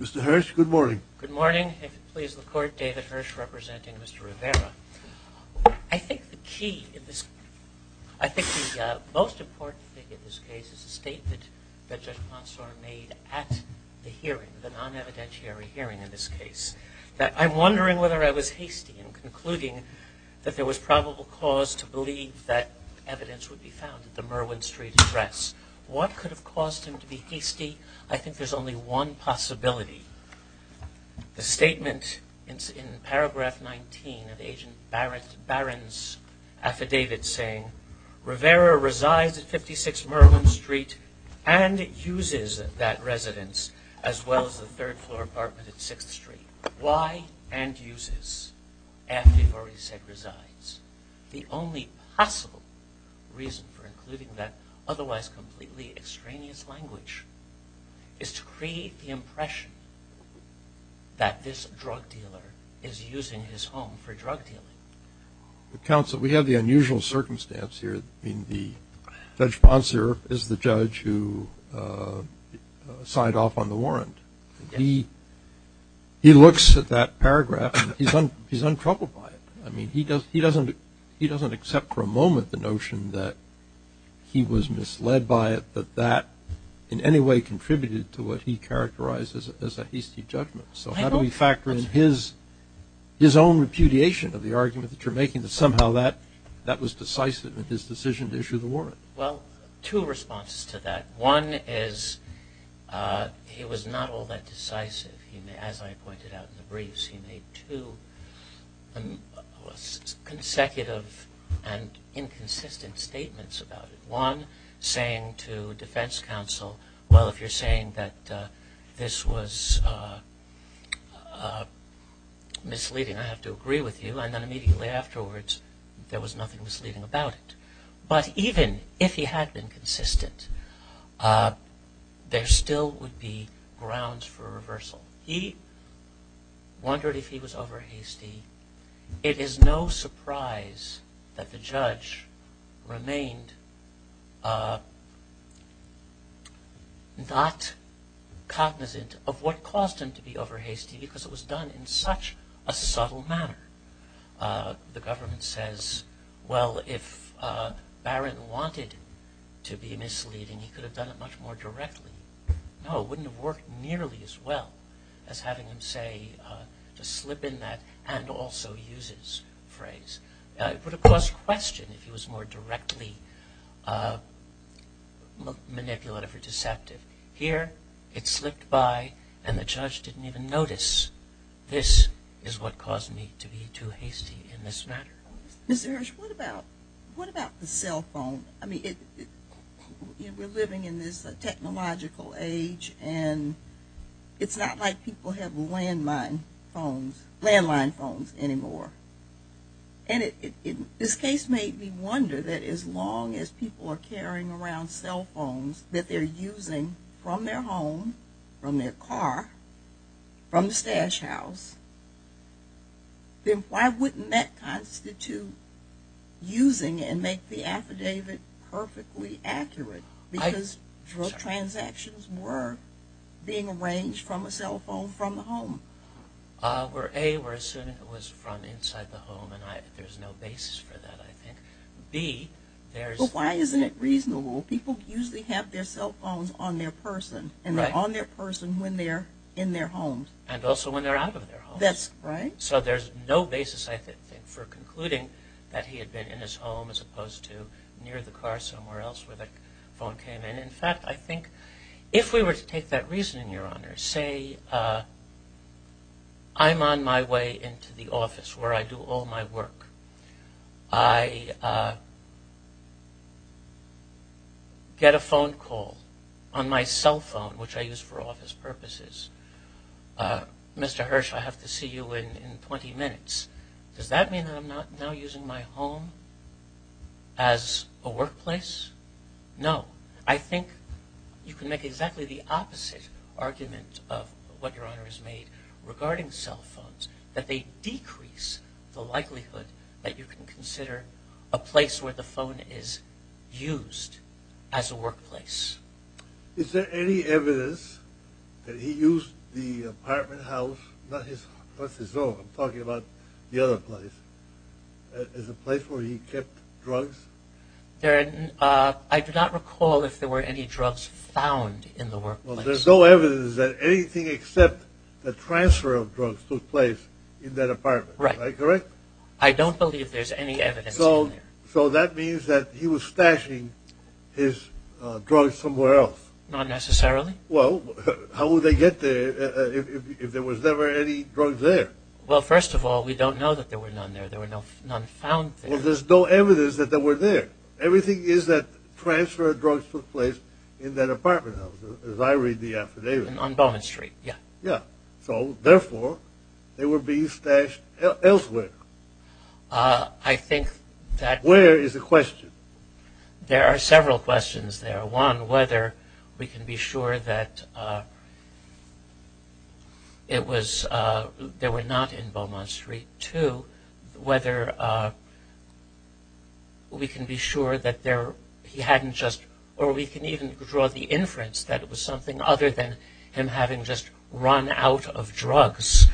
Mr. Hirsch, good morning. Good morning. If it pleases the court, David Hirsch representing Mr. Rivera. I think the key in this, I think the most important thing in this case is the statement that Judge Ponsor made at the hearing, the non-evidentiary hearing in this case, that I'm wondering whether I was hasty in concluding that there was probable cause to believe that evidence would be found at the Merwin Street address. What could have caused him to be hasty? I think there's only one possibility. The statement in paragraph 19 of Agent Barron's affidavit saying, Rivera resides at 56 Merwin Street and uses that residence as well as the third floor apartment at 6th Street. The only possible reason for including that otherwise completely extraneous language is to create the impression that this drug dealer is using his home for drug dealing. We have the unusual circumstance here in the Judge Ponsor is the judge who signed off on the warrant. He looks at that paragraph and he's untroubled by it. I mean, he doesn't accept for a moment the notion that he was misled by it, that that in any way contributed to what he characterized as a hasty judgment. So how do we factor in his own repudiation of the argument that you're making that somehow that was decisive in his decision to issue the warrant? Well, two responses to that. One is he was not all that decisive. As I pointed out in the briefs, he made two consecutive and inconsistent statements about it. One saying to defense counsel, well, if you're saying that this was misleading, I have to agree with you. And then immediately afterwards, there was nothing misleading about it. But even if he had been consistent, there still would be grounds for reversal. He wondered if he was over hasty. It is no surprise that the judge remained not cognizant of what caused him to be over hasty because it was done in such a subtle manner. The government says, well, if Barron wanted to be misleading, he could have done it much more directly. No, it wouldn't have worked nearly as well as having him say, to slip in that and also use his phrase. It would have caused question if he was more directly manipulative or deceptive. Here, it slipped by and the judge didn't even notice, this is what caused me to be too hasty in this matter. Mr. Hirsch, what about the cell phone? I mean, we're living in this technological age and it's not like people have landline phones anymore. And this case made me wonder that as long as people are carrying around cell phones that they're using from their home, from their car, from the stash house, then why wouldn't that constitute using and make the affidavit perfectly accurate because transactions were being arranged from a cell phone from the home? A, we're assuming it was from inside the home and there's no basis for that, I think. B, there's... But why isn't it reasonable? People usually have their cell phones on their person and they're on their person when they're in their homes. And also when they're out of their homes. So there's no basis, I think, for concluding that he had been in his home as opposed to near the car somewhere else where the phone came in. In fact, I think if we were to take that reasoning, Your Honor, say I'm on my way into the office where I do all my work. I get a phone call on my cell phone, which I use for office purposes. Mr. Hirsch, I have to see you in 20 minutes. Does that mean I'm not now using my home as a workplace? No. I think you can make exactly the opposite argument of what Your Honor has made regarding cell phones. That they decrease the likelihood that you can consider a place where the phone is used as a workplace. Is there any evidence that he used the apartment house, not his home, I'm talking about the other place, as a place where he kept drugs? I do not recall if there were any drugs found in the workplace. There's no evidence that anything except the transfer of drugs took place in that apartment. Am I correct? I don't believe there's any evidence in there. So that means that he was stashing his drugs somewhere else? Not necessarily. Well, how would they get there if there was never any drugs there? Well, first of all, we don't know that there were none there. There were none found there. Well, there's no evidence that they were there. Everything is that transfer of drugs took place in that apartment house. As I read the affidavit. On Beaumont Street. Yeah. Yeah. So, therefore, they were being stashed elsewhere. I think that- Where is the question? There are several questions there. One, whether we can be sure that it was, they were not in Beaumont Street. Two, whether we can be sure that he hadn't just, or we can even draw the inference that it was something other than him having just run out of drugs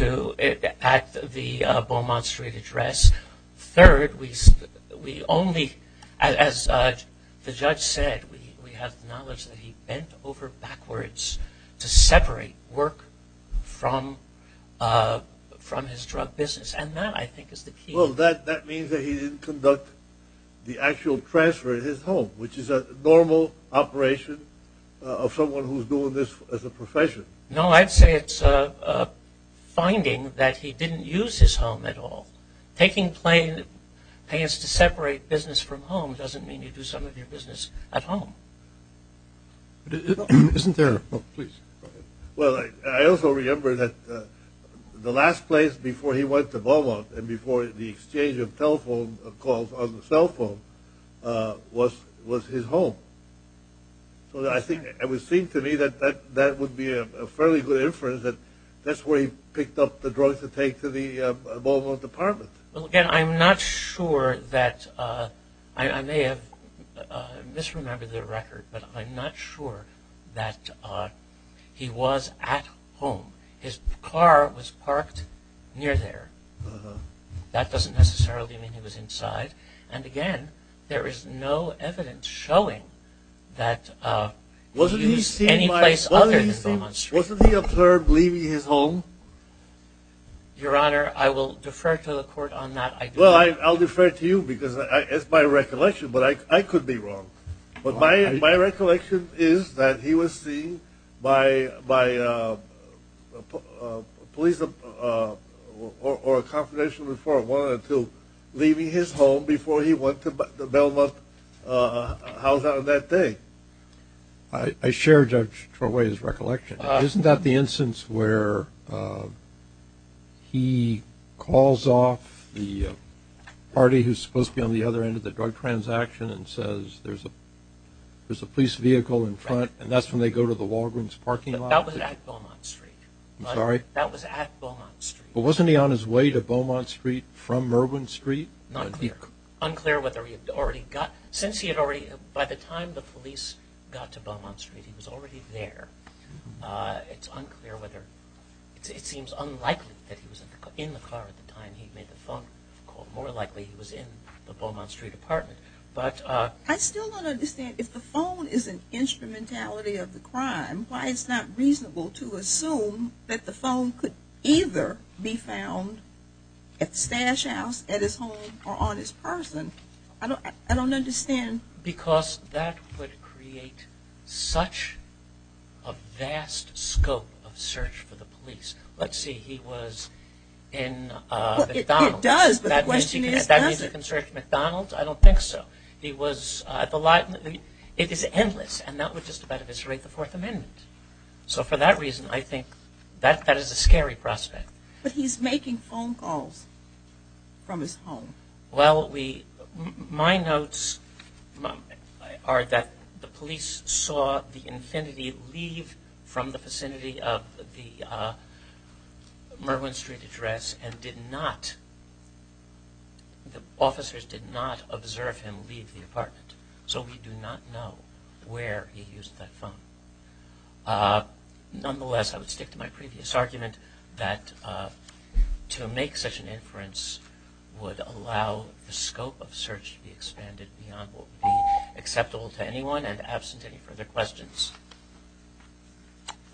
at the Beaumont Street address. Third, we only, as the judge said, we have knowledge that he bent over backwards to separate work from his drug business. And that, I think, is the key. Well, that means that he didn't conduct the actual transfer in his home, which is a normal operation of someone who's doing this as a profession. No, I'd say it's a finding that he didn't use his home at all. Taking plain, I guess, to separate business from home doesn't mean you do some of your business at home. Isn't there, oh, please, go ahead. Well, I also remember that the last place before he went to Beaumont and before the exchange of telephone calls on the cell phone was his home. So, I think, it would seem to me that that would be a fairly good inference that that's where he picked up the drugs to take to the Beaumont department. Well, again, I'm not sure that, I may have misremembered the record, but I'm not sure that he was at home. His car was parked near there. That doesn't necessarily mean he was inside. And again, there is no evidence showing that he was any place other than Beaumont Street. Wasn't he observed leaving his home? Your Honor, I will defer to the court on that. Well, I'll defer to you because it's my recollection, but I could be wrong. But my recollection is that he was seen by police or a confidential before one or two leaving his home before he went to the Beaumont house on that day. I share Judge Troway's recollection. Isn't that the instance where he calls off the party who's supposed to be on the other transaction and says there's a police vehicle in front and that's when they go to the Walgreens parking lot? That was at Beaumont Street. I'm sorry? That was at Beaumont Street. But wasn't he on his way to Beaumont Street from Merwin Street? Not clear. Unclear whether he had already got, since he had already, by the time the police got to Beaumont Street, he was already there. It's unclear whether, it seems unlikely that he was in the car at the time he made the phone call. More likely he was in the Beaumont Street apartment. I still don't understand if the phone is an instrumentality of the crime, why it's not reasonable to assume that the phone could either be found at the stash house, at his home, or on his person. I don't understand. Because that would create such a vast scope of search for the police. Let's see, he was in McDonald's. He does, but the question is, does he? That means he can search McDonald's? I don't think so. He was at the, it is endless, and that would just about eviscerate the Fourth Amendment. So for that reason, I think, that is a scary prospect. But he's making phone calls from his home. Well, my notes are that the police saw the Infiniti leave from the vicinity of the Merwin Street address and did not, the officers did not observe him leave the apartment. So we do not know where he used that phone. Nonetheless, I would stick to my previous argument that to make such an inference would allow the scope of search to be expanded beyond what would be acceptable to anyone and absent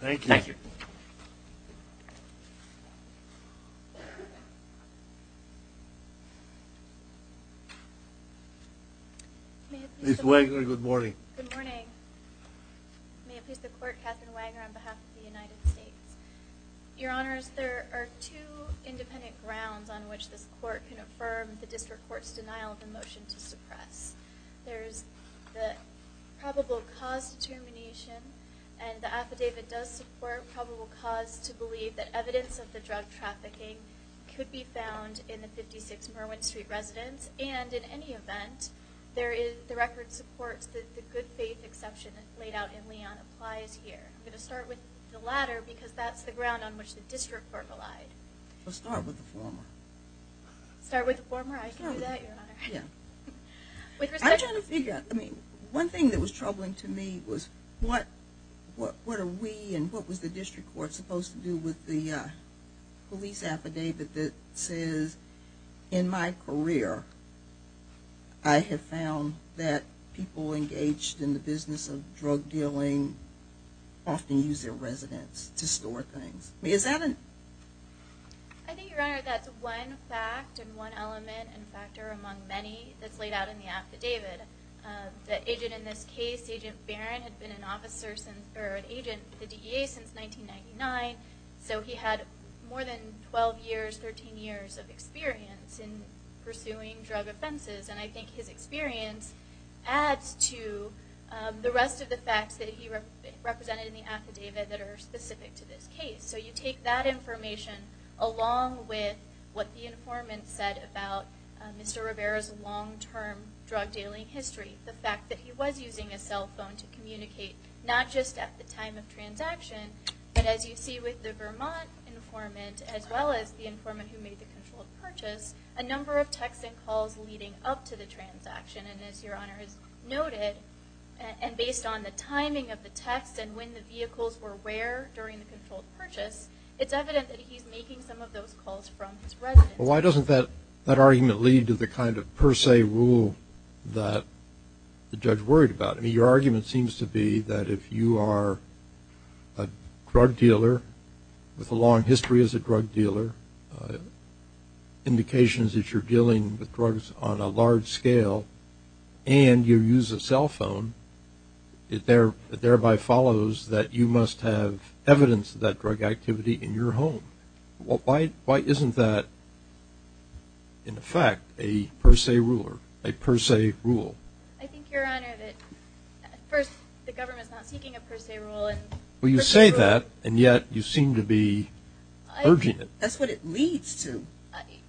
Thank you. Thank you. Ms. Wagoner, good morning. Good morning. May it please the Court, Katherine Wagoner on behalf of the United States. Your Honors, there are two independent grounds on which this Court can affirm the District Court's denial of the motion to suppress. There's the probable cause determination, and the affidavit does support probable cause to believe that evidence of the drug trafficking could be found in the 56 Merwin Street residence. And in any event, the record supports that the good faith exception laid out in Leon applies here. I'm going to start with the latter because that's the ground on which the District Court relied. Well, start with the former. Start with the former? I can do that, Your Honor? Yeah. I'm trying to figure out, I mean, one thing that was troubling to me was what are we and what was the District Court supposed to do with the police affidavit that says, in my career, I have found that people engaged in the business of drug dealing often use their residence to store things. I mean, is that an... I think, Your Honor, that's one fact and one element and factor among many that's laid out in the affidavit. The agent in this case, Agent Barron, had been an agent with the DEA since 1999, so he had more than 12 years, 13 years of experience in pursuing drug offenses. And I think his experience adds to the rest of the facts that he represented in the affidavit that are specific to this case. So you take that information along with what the informant said about Mr. Rivera's long history, the fact that he was using a cell phone to communicate, not just at the time of transaction, but as you see with the Vermont informant, as well as the informant who made the controlled purchase, a number of texts and calls leading up to the transaction. And as Your Honor has noted, and based on the timing of the texts and when the vehicles were where during the controlled purchase, it's evident that he's making some of those calls from his residence. Well, why doesn't that argument lead to the kind of per se rule that the judge worried about? I mean, your argument seems to be that if you are a drug dealer with a long history as a drug dealer, indications that you're dealing with drugs on a large scale, and you use a cell phone, it thereby follows that you must have evidence of that drug activity in your home. Why isn't that, in effect, a per se rule? I think, Your Honor, that first, the government is not seeking a per se rule. Well, you say that, and yet you seem to be urging it. That's what it leads to.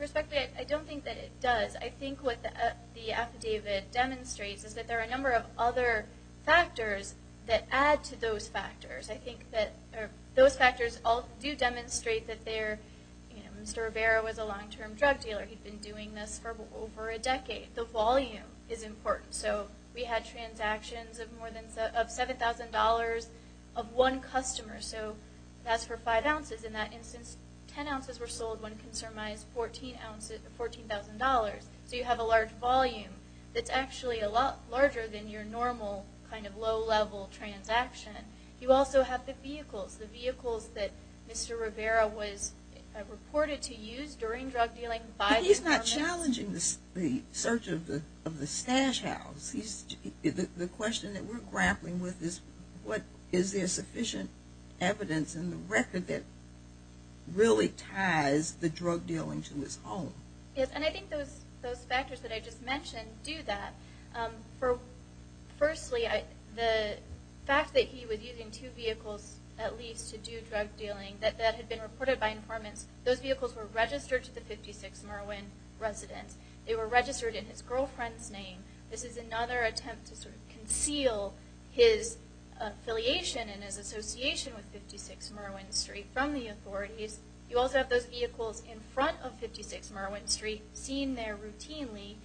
Respectfully, I don't think that it does. I think what the affidavit demonstrates is that there are a number of other factors that add to those factors. I think that those factors do demonstrate that Mr. Rivera was a long-term drug dealer. He'd been doing this for over a decade. The volume is important. So, we had transactions of $7,000 of one customer. So, that's for five ounces. In that instance, ten ounces were sold when it consummized $14,000. So, you have a large volume that's actually a lot larger than your normal kind of low level transaction. You also have the vehicles. The vehicles that Mr. Rivera was reported to use during drug dealing by the government. But he's not challenging the search of the stash house. The question that we're grappling with is, is there sufficient evidence in the record that really ties the drug dealing to his home? Yes, and I think those factors that I just mentioned do that. Firstly, the fact that he was using two vehicles, at least, to do drug dealing that had been reported by informants, those vehicles were registered to the 56 Merwin residence. They were registered in his girlfriend's name. This is another attempt to sort of conceal his affiliation and his association with 56 Merwin Street from the authorities. You also have those vehicles in front of 56 Merwin Street, seen there routinely.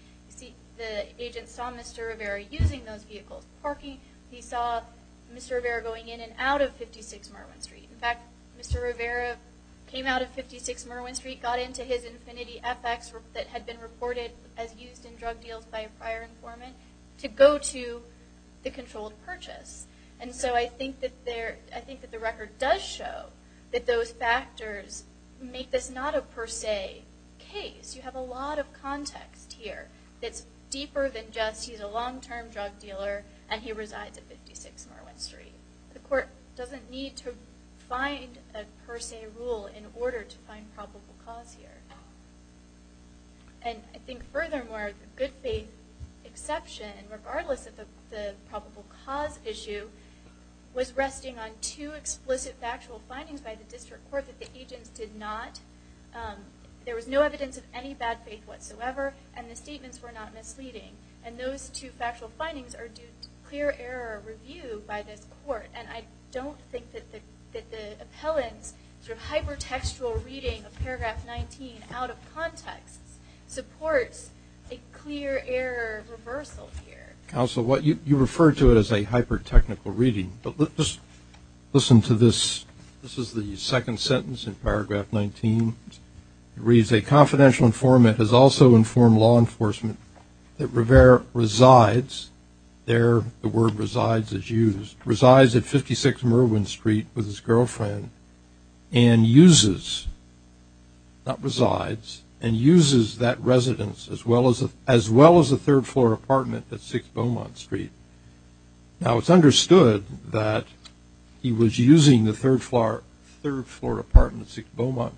The agent saw Mr. Rivera using those vehicles parking. He saw Mr. Rivera going in and out of 56 Merwin Street. In fact, Mr. Rivera came out of 56 Merwin Street, got into his Infinity FX that had been reported as used in drug deals by a prior informant to go to the controlled purchase. And so, I think that the record does show that those factors make this not a per se case. You have a lot of context here that's deeper than just he's a long term drug dealer and he resides at 56 Merwin Street. The court doesn't need to find a per se rule in order to find probable cause here. And I think furthermore, the good faith exception, regardless of the probable cause issue, was resting on two explicit factual findings by the district court that the agents did not, there was no evidence of any bad faith whatsoever and the statements were not misleading. And those two factual findings are due to clear error review by this court. And I don't think that the appellant's hyper textual reading of paragraph 19 out of context supports a clear error reversal here. Counsel, you refer to it as a hyper technical reading, but let's just listen to this. This is the second sentence in paragraph 19. It reads, a confidential informant has also informed law enforcement that Rivera resides, there the word resides is used, resides at 56 Merwin Street with his girlfriend and uses, not resides, and uses that residence as well as a third floor apartment at 6 Beaumont Street. Now it's understood that he was using the third floor apartment at 6 Beaumont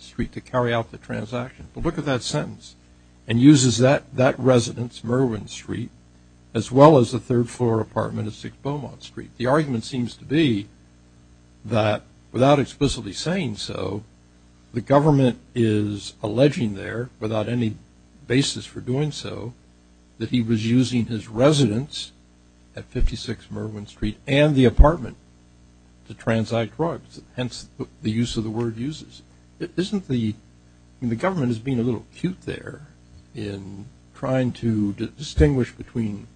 Street to carry out the transaction, but look at that sentence. And uses that residence, Merwin Street, as well as the third floor apartment at 6 Beaumont Street. The argument seems to be that without explicitly saying so, the government is alleging there, without any basis for doing so, that he was using his residence at 56 Merwin Street and the apartment to transact drugs. Hence the use of the word uses. Isn't the, the government is being a little cute there in trying to distinguish between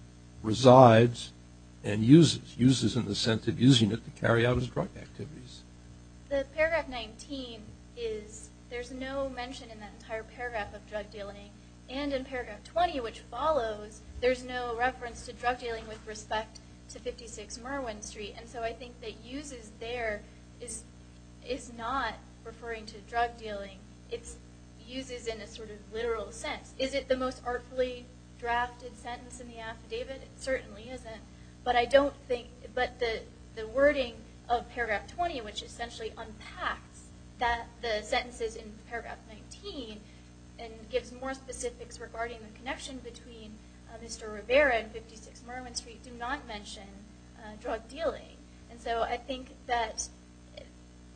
resides and uses. Uses in the sense of using it to carry out his drug activities. The paragraph 19 is, there's no mention in that entire paragraph of drug dealing and in paragraph 20 which follows, there's no reference to drug dealing with respect to 56 Merwin Street. And so I think that uses there is not referring to drug dealing. It's uses in a sort of literal sense. Is it the most artfully drafted sentence in the affidavit? It certainly isn't, but I don't think, but the wording of paragraph 20 which essentially unpacks that, the sentences in paragraph 19 and gives more specifics regarding the connection between Mr. Rivera and 56 Merwin Street do not mention drug dealing. And so I think that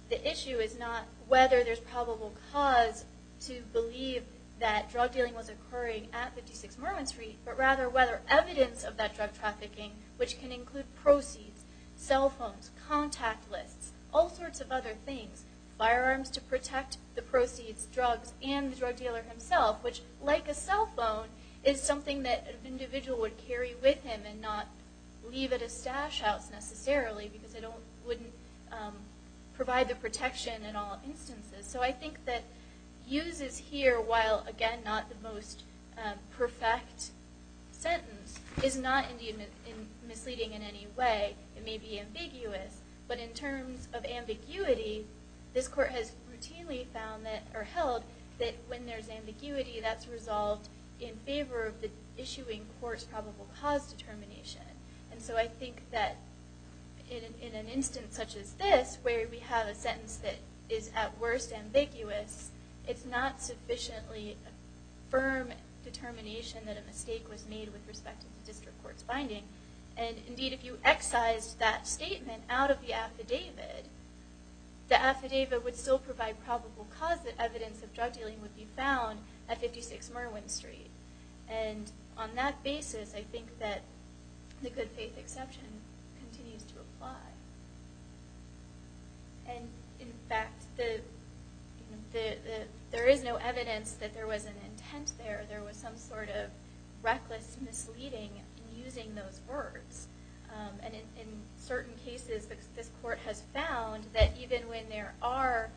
the issue is not whether there's probable cause to believe that drug dealing was occurring at 56 Merwin Street but rather whether evidence of that drug trafficking, which can include proceeds, cell phones, contact lists, all sorts of other things, firearms to protect the proceeds, drugs, and the drug dealer himself, which like a cell phone is something that an individual would carry with him and not leave at a stash house necessarily because it wouldn't provide the protection in all instances. So I think that uses here, while again not the most perfect sentence, is not misleading in any way. It may be ambiguous, but in terms of ambiguity, this court has routinely held that when there's ambiguity that's resolved in favor of the issuing court's probable cause determination. And so I think that in an instance such as this, where we have a sentence that is at worst ambiguous, it's not sufficiently firm determination that a mistake was made with respect to the district court's binding. And indeed, if you excised that statement out of the affidavit, the affidavit would still provide probable cause that evidence of drug dealing would be found at 56 Merwin Street. And on that basis, I think that the good faith exception continues to apply. And in fact, there is no evidence that there was an intent there. There was some sort of reckless misleading in using those words. And in certain cases, this court has found that even when there are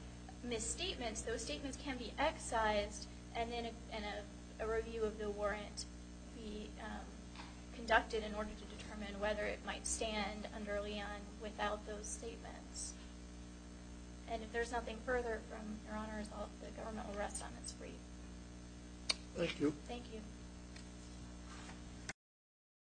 misstatements, those statements can be excised and a review of the warrant be conducted in order to determine whether it might stand under LEON without those statements. And if there's nothing further from Your Honors, the government will rest on its feet. Thank you. Thank you.